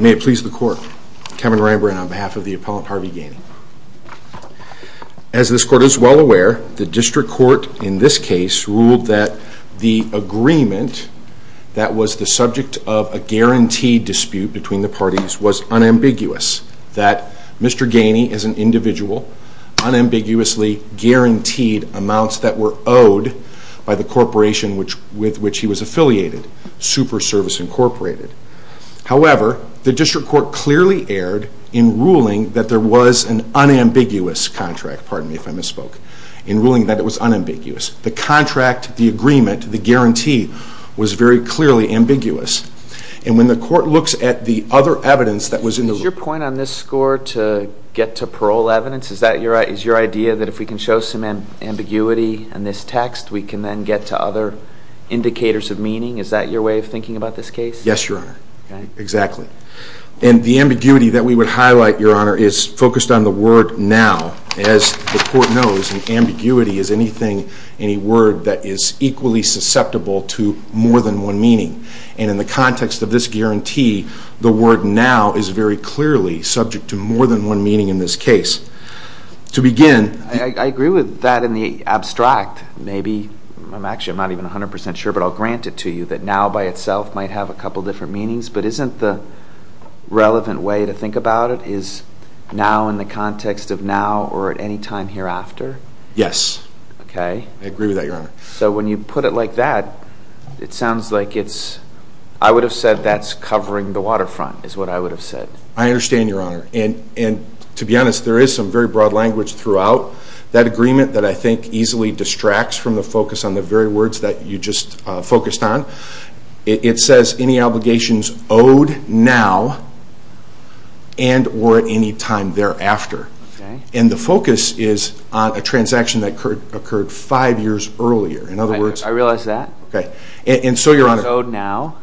May it please the court, Kevin Rehbrand on behalf of the appellant Harvey Gainey. As this court is well aware, the district court in this case ruled that the agreement that was the subject of a guaranteed dispute between the parties was unambiguous, that Mr. Gainey is an individual, unambiguously guaranteed amounts that were owed by the corporation with which he was affiliated, Super Service Incorporated. However, the district court clearly erred in ruling that there was an unambiguous contract, pardon me if I misspoke, in ruling that it was unambiguous. The contract, the agreement, the guarantee was very clearly ambiguous and when the court looks at the other evidence that was in the ruling. Is your point on this score to get to parole evidence? Is that your idea that if we can show some ambiguity in this text we can then get to other indicators of meaning? Is that your way of thinking about this case? Yes, Your Honor. Exactly. And the ambiguity that we would highlight, Your Honor, is focused on the word now, as the court knows, and ambiguity is anything, any word that is equally susceptible to more than one meaning. And in the context of this guarantee, the word now is very clearly subject to more than one meaning in this case. To begin... I agree with that in the abstract. Maybe, I'm actually not even 100% sure, but I'll grant it to you that now by itself might have a couple different meanings, but isn't the context of now or at any time hereafter? Yes. Okay. I agree with that, Your Honor. So when you put it like that, it sounds like it's... I would have said that's covering the waterfront, is what I would have said. I understand, Your Honor. And to be honest, there is some very broad language throughout that agreement that I think easily distracts from the focus on the very words that you just focused on. It says any obligations owed now and or at any time thereafter. And the focus is on a transaction that occurred five years earlier. In other words... I realize that. Okay. And so, Your Honor... It's owed now.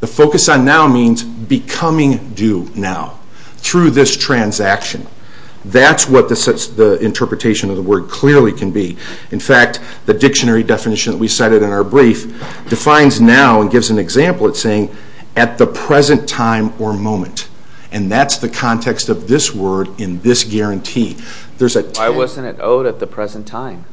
The focus on now means becoming due now through this transaction. That's what the interpretation of the word clearly can be. In fact, the dictionary definition that we cited in our brief defines now and gives an example. It's saying at the present time or moment. And that's the context of this word in this guarantee. There's a... Why wasn't it owed at the present time?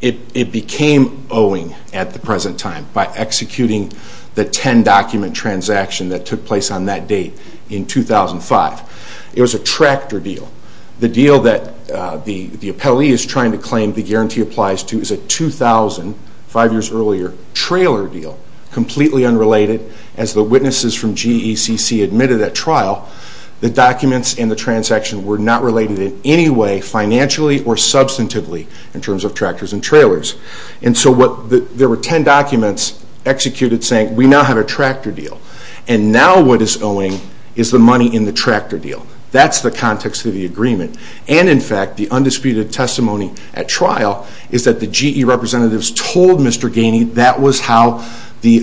It became owing at the present time by executing the 10-document transaction that took place on that date in 2005. It was a tractor deal. The deal that the appellee is trying to claim the guarantee applies to is a 2000, five years earlier, trailer deal, completely unrelated as the witnesses from GECC admitted at trial. The documents in the transaction were not related in any way financially or substantively in terms of tractors and trailers. And so this owing is the money in the tractor deal. That's the context of the agreement. And in fact, the undisputed testimony at trial is that the GE representatives told Mr. Ganey that was how the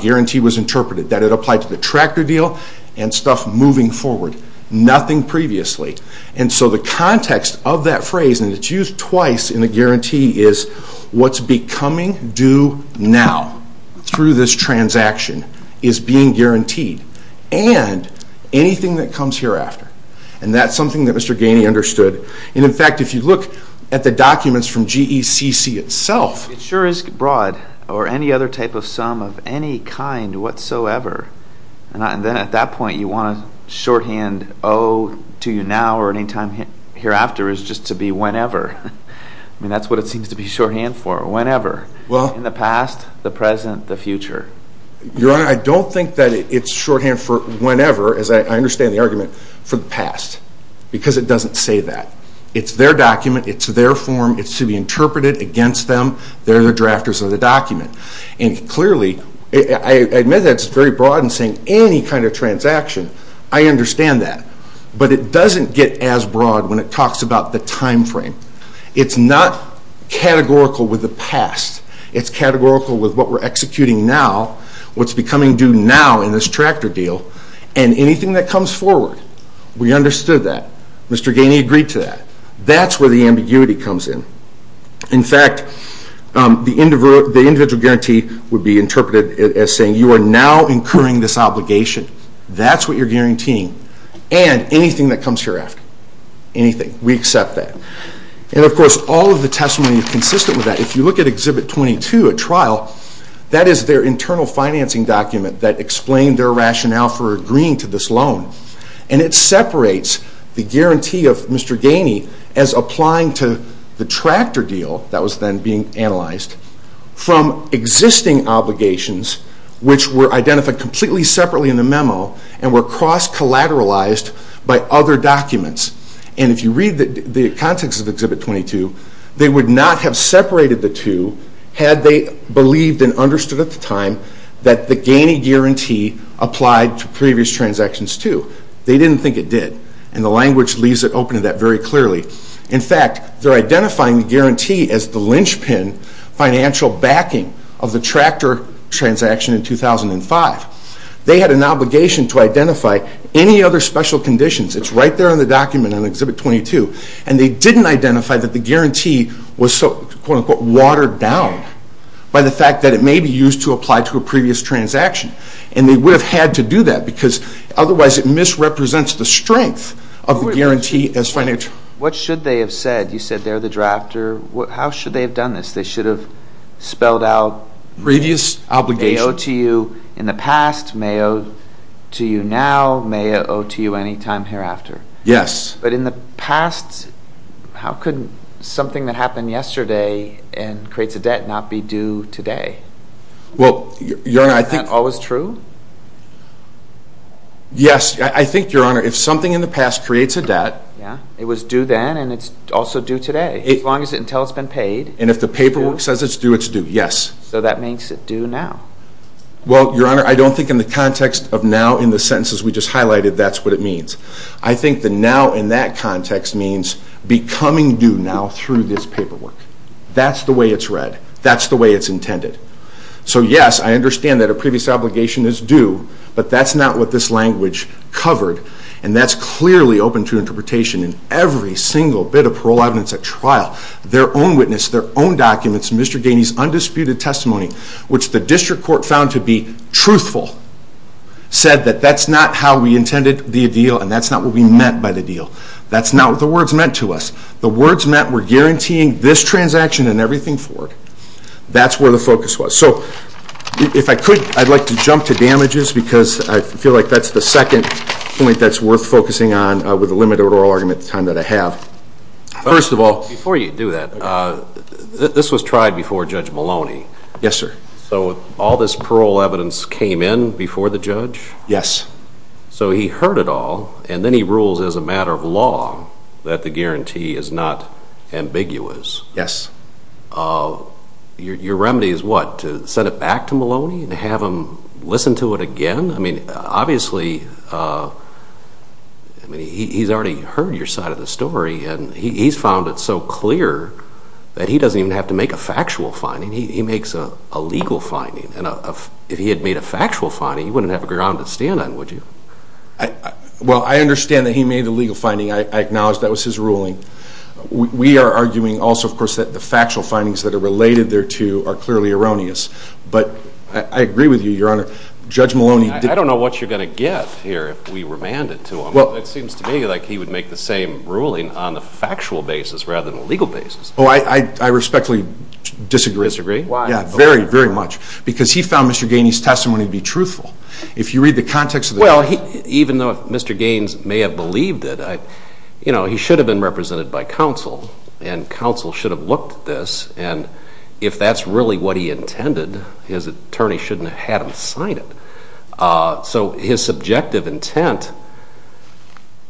guarantee was interpreted. That it applied to the tractor deal and stuff moving forward. Nothing previously. And so the context of that phrase, and it's used twice in the guarantee, is what's becoming due now through this transaction is being guaranteed. And anything that comes hereafter. And that's something that Mr. Ganey understood. And in fact, if you look at the documents from GECC itself... It sure is broad or any other type of sum of any kind whatsoever. And then at that point you want to shorthand owe to you now or any time hereafter is just to be whenever. I mean, that's what it seems to be shorthand for, whenever. In the past, the present, the future. Your Honor, I don't think that it's shorthand for whenever, as I understand the argument, for the past. Because it doesn't say that. It's their document. It's their form. It's to be interpreted against them. They're the drafters of the document. And clearly, I admit that's very broad in saying any kind of transaction. I understand that. But it doesn't get as broad when it talks about the time frame. It's not categorical with the past. It's categorical with what we're executing now, what's becoming due now in this tractor deal, and anything that comes forward. We understood that. Mr. Ganey agreed to that. That's where the ambiguity comes in. In fact, the individual guarantee would be interpreted as saying you are now incurring this obligation. That's what you're guaranteeing. And anything that comes hereafter. Anything. We accept that. And of course, all of the testimony is consistent with that. If you look at Exhibit 22 at trial, that is their internal financing document that explained their rationale for agreeing to this loan. And it separates the guarantee of Mr. Ganey as applying to the tractor deal that was then being analyzed from existing obligations, which were identified completely separately in the memo and were cross-collateralized by other documents. And if you read the context of Exhibit 22, they would not have separated the two had they believed and understood at the time that the Ganey guarantee applied to previous transactions too. They didn't think it did. And the language leaves it open to that very clearly. In fact, they're identifying the guarantee as the linchpin financial backing of the tractor transaction in 2005. They had an obligation to identify any other special conditions. It's right there in the document in Exhibit 22. And they didn't identify that the guarantee was so, quote-unquote, watered down by the fact that it may be used to apply to a previous transaction. And they would have had to do that because otherwise it misrepresents the strength of the guarantee as financial. What should they have said? You said they're the drafter. How should they have done this? They should have spelled out previous obligation. May it owe to you in the past. May it owe to you now. May it owe to you any time hereafter. Yes. But in the past, how could something that happened yesterday and creates a debt not be due today? Well, Your Honor, I think... Is that always true? Yes. I think, Your Honor, if something in the past creates a debt... Yeah. It was due then and it's also due today. As long as it's until it's been paid. And if the paperwork says it's due, it's due. Yes. So that means it's due now. Well, Your Honor, I don't think in the context of now in the sentences we just highlighted, that's what it means. I think the now in that context means becoming due now through this paperwork. That's the way it's read. That's the way it's intended. So yes, I understand that a previous obligation is due, but that's not what this language covered. And that's clearly open to interpretation in every single bit of parole evidence at trial. Their own witness, their own documents, Mr. Ganey's undisputed testimony, which the district court found to be truthful, said that that's not how we intended the deal and that's not what we meant by the deal. That's not what the words meant to us. The words meant we're guaranteeing this transaction and everything forward. That's where the focus was. So if I could, I'd like to jump to damages because I feel like that's the second point that's worth focusing on with a limited oral argument at the time that I have. First of all, before you do that, this was tried before Judge Maloney. Yes, sir. So all this parole evidence came in before the judge? Yes. So he heard it all and then he rules as a matter of law that the guarantee is not ambiguous. Yes. Your remedy is what, to send it back to Maloney and have him listen to it again? I mean, obviously, he's already heard your side of the story and he's found it so clear that he doesn't even have to make a factual finding. He makes a legal finding and if he had made a factual finding, you wouldn't have a ground to stand on, would you? Well, I understand that he made the legal finding. I acknowledge that was his ruling. We are arguing also, of course, that the factual findings that are related there too are clearly erroneous. But I agree with you, Your Honor. Judge Maloney... I don't know what you're going to get here if we remand it to him. It seems to me like he would make the same ruling on the factual basis rather than the legal basis. Oh, I respectfully disagree. Disagree? Why? Yeah, very, very much. Because he found Mr. Gainey's testimony to be truthful. If you read the context of the... Well, even though Mr. Gaines may have believed it, you know, he should have been represented by counsel and counsel should have looked at this and if that's really what he intended, his attorney shouldn't have had him sign it. So his subjective intent,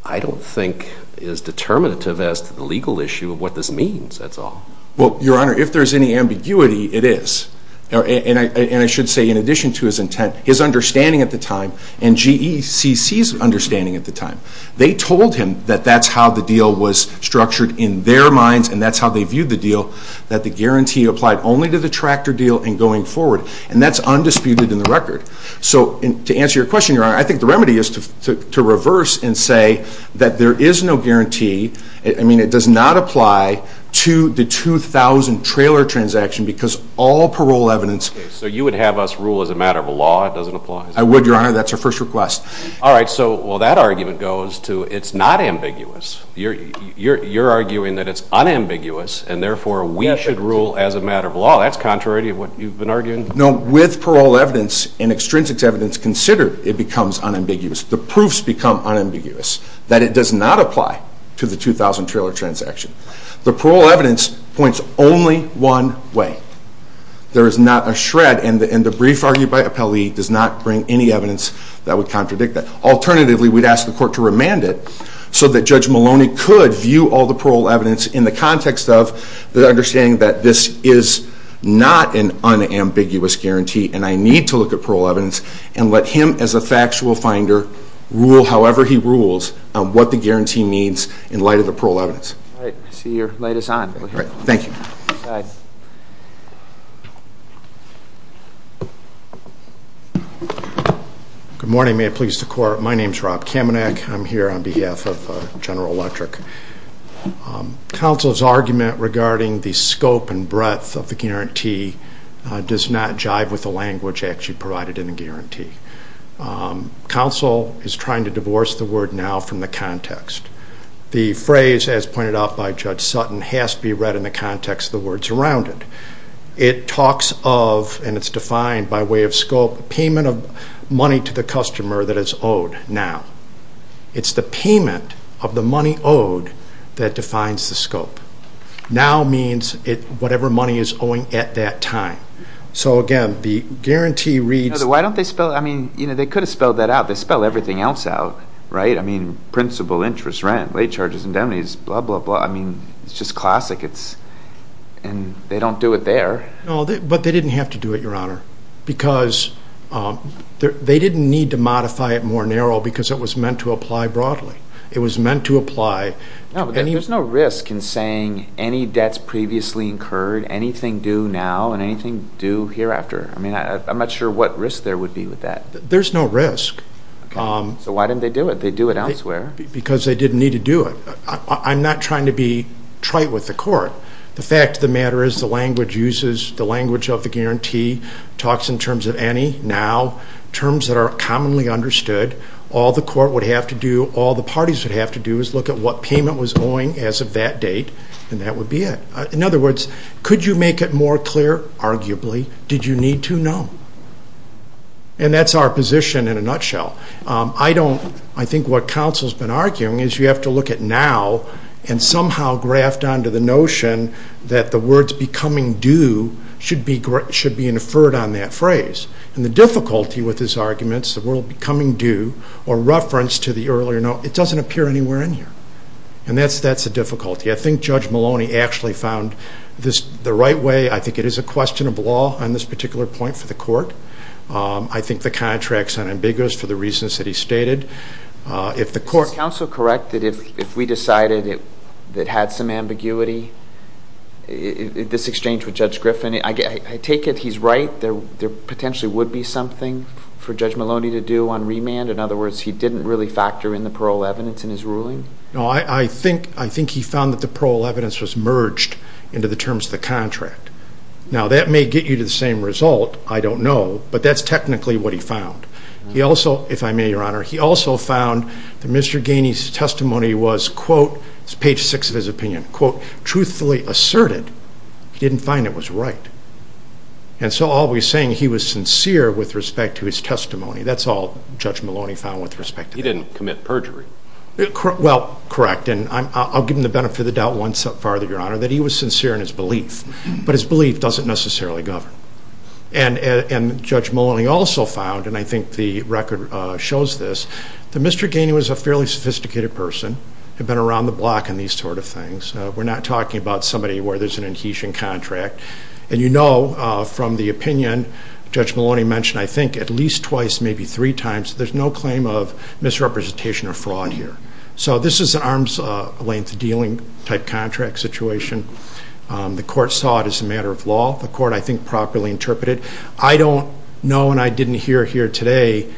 I don't think, is determinative as to the legal issue of what this means, that's all. Well, Your Honor, if there's any ambiguity, it is. And I should say, in addition to his intent, his understanding at the time and GECC's understanding at the time, they told him that that's how the deal was structured in their minds and that's how they viewed the deal, that the guarantee applied only to the tractor deal and going forward. And that's undisputed in the record. So, to answer your question, Your Honor, I think the remedy is to reverse and say that there is no guarantee, I mean, it does not apply to the 2,000 trailer transaction because all parole evidence... So you would have us rule as a matter of law, it doesn't apply? I would, Your Honor, that's our first request. All right, so, well, that argument goes to it's not ambiguous. You're arguing that it's unambiguous and therefore we should rule as a matter of law. That's contrary to what you've been arguing? No, with parole evidence and extrinsic evidence considered, it becomes unambiguous. The proofs become unambiguous, that it does not apply to the 2,000 trailer transaction. The parole evidence points only one way. There is not a shred and the brief argued by appellee does not bring any evidence that would contradict that. Alternatively, we'd ask the court to remand it so that Judge Maloney could view all the parole evidence in the context of the understanding that this is not an unambiguous guarantee and I need to look at parole evidence and let him, as a factual finder, rule however he rules on what the guarantee means in light of the parole evidence. All right, I see you're latest on. Thank you. Good morning, may it please the court. My name's Rob Kamenak. I'm here on behalf of General Electric. Counsel's argument regarding the scope and breadth of the guarantee does not jive with the language actually provided in the guarantee. Counsel is trying to divorce the word now from the context. The phrase, as pointed out by Judge Sutton, has to be read in the context of the words around it. It talks of, and it's defined by way of scope, payment of money to the customer that is owed now. It's the payment of the money owed that defines the scope. Now means whatever money is owing at that time. So again, the guarantee reads... Why don't they spell, I mean, they could have spelled that out. They spell everything else out, right? I mean, principal, interest, rent, late charges, indemnities, blah, blah, blah. I mean, it's just classic. And they don't do it there. No, but they didn't have to do it, Your Honor, because they didn't need to modify it more narrow because it was meant to apply broadly. It was meant to apply... No, but there's no risk in saying any debts previously incurred, anything due now and anything due hereafter. I mean, I'm not sure what risk there would be with that. There's no risk. Okay. So why didn't they do it? They do it elsewhere. Because they didn't need to do it. I'm not trying to be trite with the court. The fact of the matter is the language uses the language of the guarantee, talks in terms of any, now, terms that are commonly understood. All the court would have to do, all the parties would have to do is look at what payment was owing as of that date, and that would be it. In other words, could you make it more clear? Arguably. Did you need to? No. And that's our position in a nutshell. I don't, I think what counsel's been arguing is you have to look at now and somehow graft onto the notion that the words becoming due should be inferred on that phrase. And the difficulty with his arguments, the word becoming due or reference to the earlier note, it doesn't appear anywhere in here. And that's a difficulty. I think Judge Maloney actually found this the right way. I think it is a question of law on this particular point for the court. I think the contract's unambiguous for the reasons that he stated. If the court... Is counsel correct that if we decided that had some ambiguity, this exchange with Judge Griffin, I take it he's right, there potentially would be something for Judge Maloney to do on remand? In other words, he didn't really factor in the parole evidence in his ruling? No, I think he found that the parole evidence was merged into the terms of the contract. Now, that may get you to the same result, I don't know, but that's technically what he found. He also, if I may, Your Honor, he also found that Mr. Gainey's testimony was quote, it's page six of his opinion, quote, truthfully asserted, he didn't find it was right. And so all we're saying, he was sincere with respect to his testimony. That's all Judge Maloney found with respect to that. He didn't commit perjury. Well, correct. And I'll give him the benefit of the doubt one step farther, Your Honor, that he was sincere in his belief, but his belief doesn't necessarily govern. And Judge Maloney also found, and I think the record shows this, that Mr. Gainey was a fairly sophisticated person, had been around the block in these sort of things. We're not talking about somebody where there's an adhesion contract. And you know from the opinion Judge Maloney mentioned, I think at least twice, maybe three times, there's no claim of misrepresentation or fraud here. So this is an arm's length dealing type contract situation. The court saw it as a matter of law. The court, I think, properly interpreted. I don't know, and I didn't hear here today,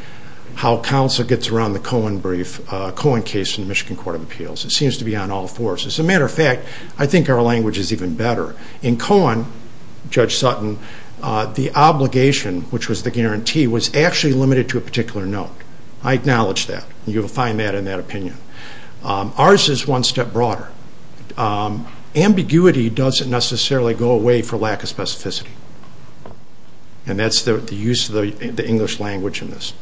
how counsel gets around the Cohen brief, Cohen case in the Michigan Court of Appeals. It seems to be on all fours. As a matter of fact, I think our language is even better. In Cohen, Judge Sutton, the obligation, which was the guarantee, was actually limited to a particular note. I acknowledge that. You'll find that in that opinion. Ours is one step broader. Ambiguity doesn't necessarily go away for lack of specificity. And that's the use of the English language in this.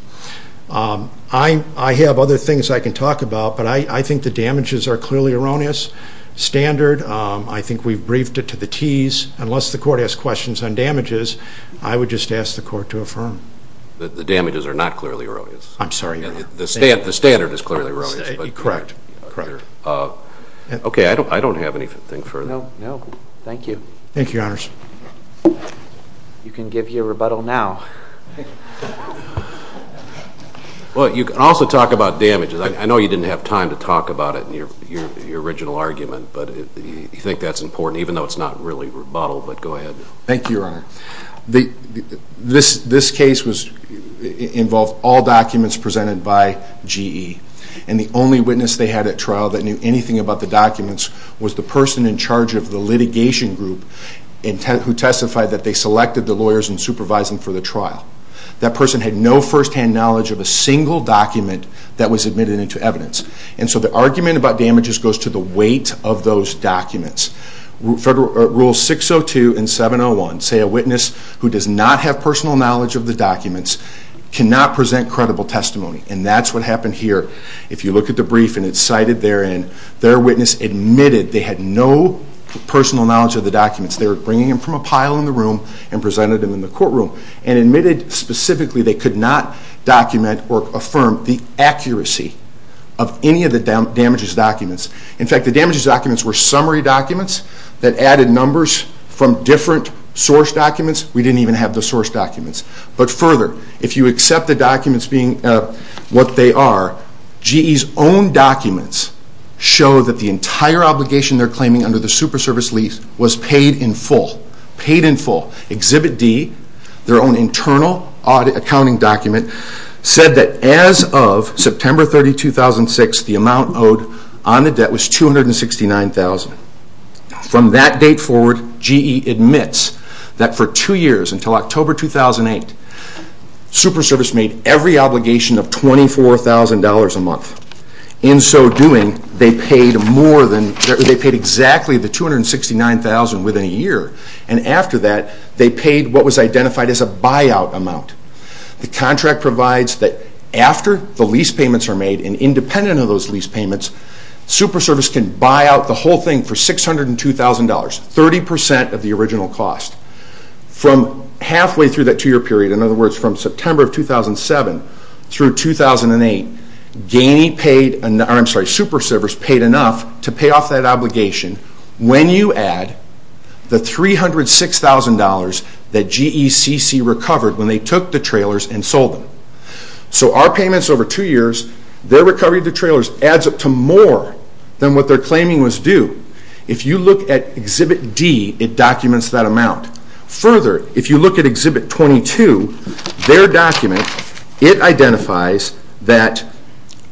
I have other things I can talk about, but I think the damages are clearly erroneous, standard. I think we've briefed it to the tees. Unless the court has questions on damages, I would just ask the court to affirm. The damages are not clearly erroneous. I'm sorry, Your Honor. The standard is clearly erroneous. Correct. Okay, I don't have anything further. No, thank you. Thank you, Your Honors. You can give your rebuttal now. Well, you can also talk about damages. I know you didn't have time to talk about it in your original argument, but you think that's important, even though it's not really rebuttal, but go ahead. Thank you, Your Honor. This case involved all documents presented by GE. And the only witness they had at trial that knew anything about the documents was the person in charge of the litigation group who testified that they selected the lawyers and supervised them for the trial. That person had no first hand knowledge of a single document that was admitted into evidence. And so the argument about damages goes to the weight of those documents. Rules 602 and 701 say a witness who does not have personal knowledge of the documents cannot present credible testimony. And that's what happened here. If you look at the brief and it's cited therein, their witness admitted they had no personal knowledge of the documents. They were bringing them from a pile in the room and presented them in the courtroom and admitted specifically they could not document or affirm the accuracy of any of the damages documents. In fact, the damages documents were summary documents that added numbers from different source documents. We didn't even have the source documents. But further, if you accept the documents being what they are, GE's own documents show that the entire obligation they're claiming under the Superservice lease was paid in full. Paid in full. Exhibit D, their own internal accounting document, said that as of September 30, 2006, the amount owed on the debt was $269,000. From that date forward, GE admits that for two years, until October 2008, Superservice made every obligation of $24,000 a month. In so doing, they paid exactly the amount of $269,000 within a year. And after that, they paid what was identified as a buyout amount. The contract provides that after the lease payments are made, and independent of those lease payments, Superservice can buy out the whole thing for $602,000, 30% of the original cost. From halfway through that two-year period, in other words, from September 2007 through 2008, Superservice paid enough to pay off that obligation when you add the $306,000 that GECC recovered when they took the trailers and sold them. So our payments over two years, their recovery of the trailers adds up to more than what they're claiming was due. If you look at Exhibit D, it documents that amount. Further, if you look at Exhibit 22, their document, it identifies that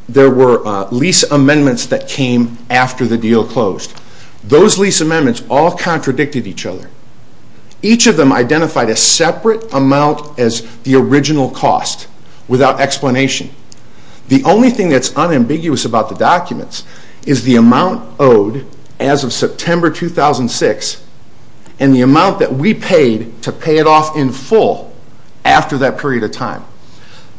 there were lease amendments that came after the deal closed. Those lease amendments all contradicted each other. Each of them identified a separate amount as the original cost, without explanation. The only thing that's unambiguous about the documents is the amount owed as of September 2006, and the amount that we paid to pay it off in full after that period of time.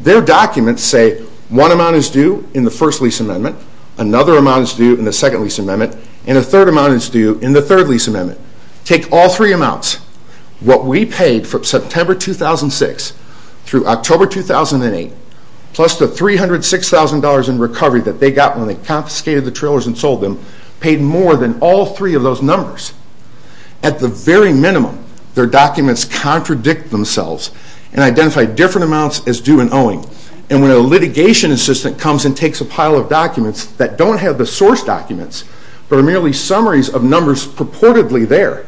Their documents say one amount is due in the first lease amendment, another amount is due in the second lease amendment, and a third amount is due in the third lease amendment. Take all three amounts. What we paid from September 2006 through October 2008, plus the $306,000 in recovery that they got when they confiscated the trailers and sold them, paid more than all three of those numbers. At the very minimum, their documents contradict themselves and identify different amounts as due and owing. And when a litigation assistant comes and takes a pile of documents that don't have the source documents, but are merely summaries of numbers purportedly there,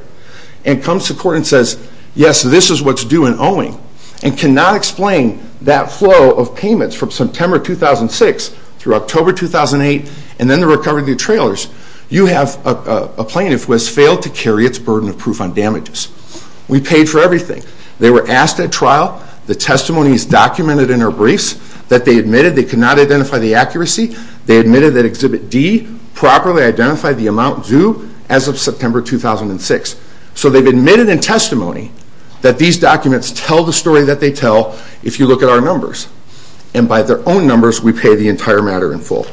and comes to court and says, yes, this is what's due and owing, and cannot explain that flow of payments from September 2006 through October 2008, and then the recovery of the trailers, you have a plaintiff who has failed to carry its burden of proof on damages. We paid for everything. They were asked at trial, the testimony is documented in our briefs that they admitted they could not identify the accuracy. They admitted that Exhibit D properly identified the amount due as of September 2006. So they've admitted in testimony that these documents tell the story that they tell if you look at our numbers. And by their own numbers, we pay the entire matter in full.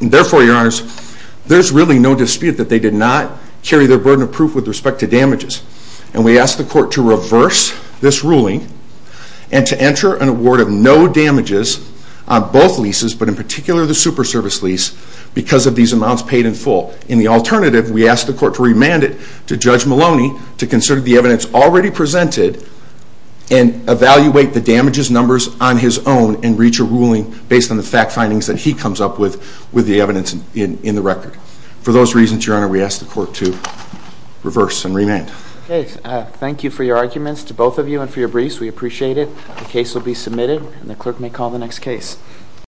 Therefore, your honors, there's really no dispute that they did not carry their burden of proof with respect to damages. And we ask the court to reverse this ruling and to enter an award of no damages on both leases, but in particular the super service lease, because of these amounts paid in full. In the alternative, we ask the court to remand it to Judge Maloney to consider the evidence already presented and evaluate the damages numbers on his own and reach a ruling based on the fact findings that he comes up with, with the evidence in the record. For those reasons, your honor, we ask the court to reverse and remand. Okay. Thank you for your arguments to both of you and for your briefs. We appreciate it. The case will be submitted and the clerk may call the next case.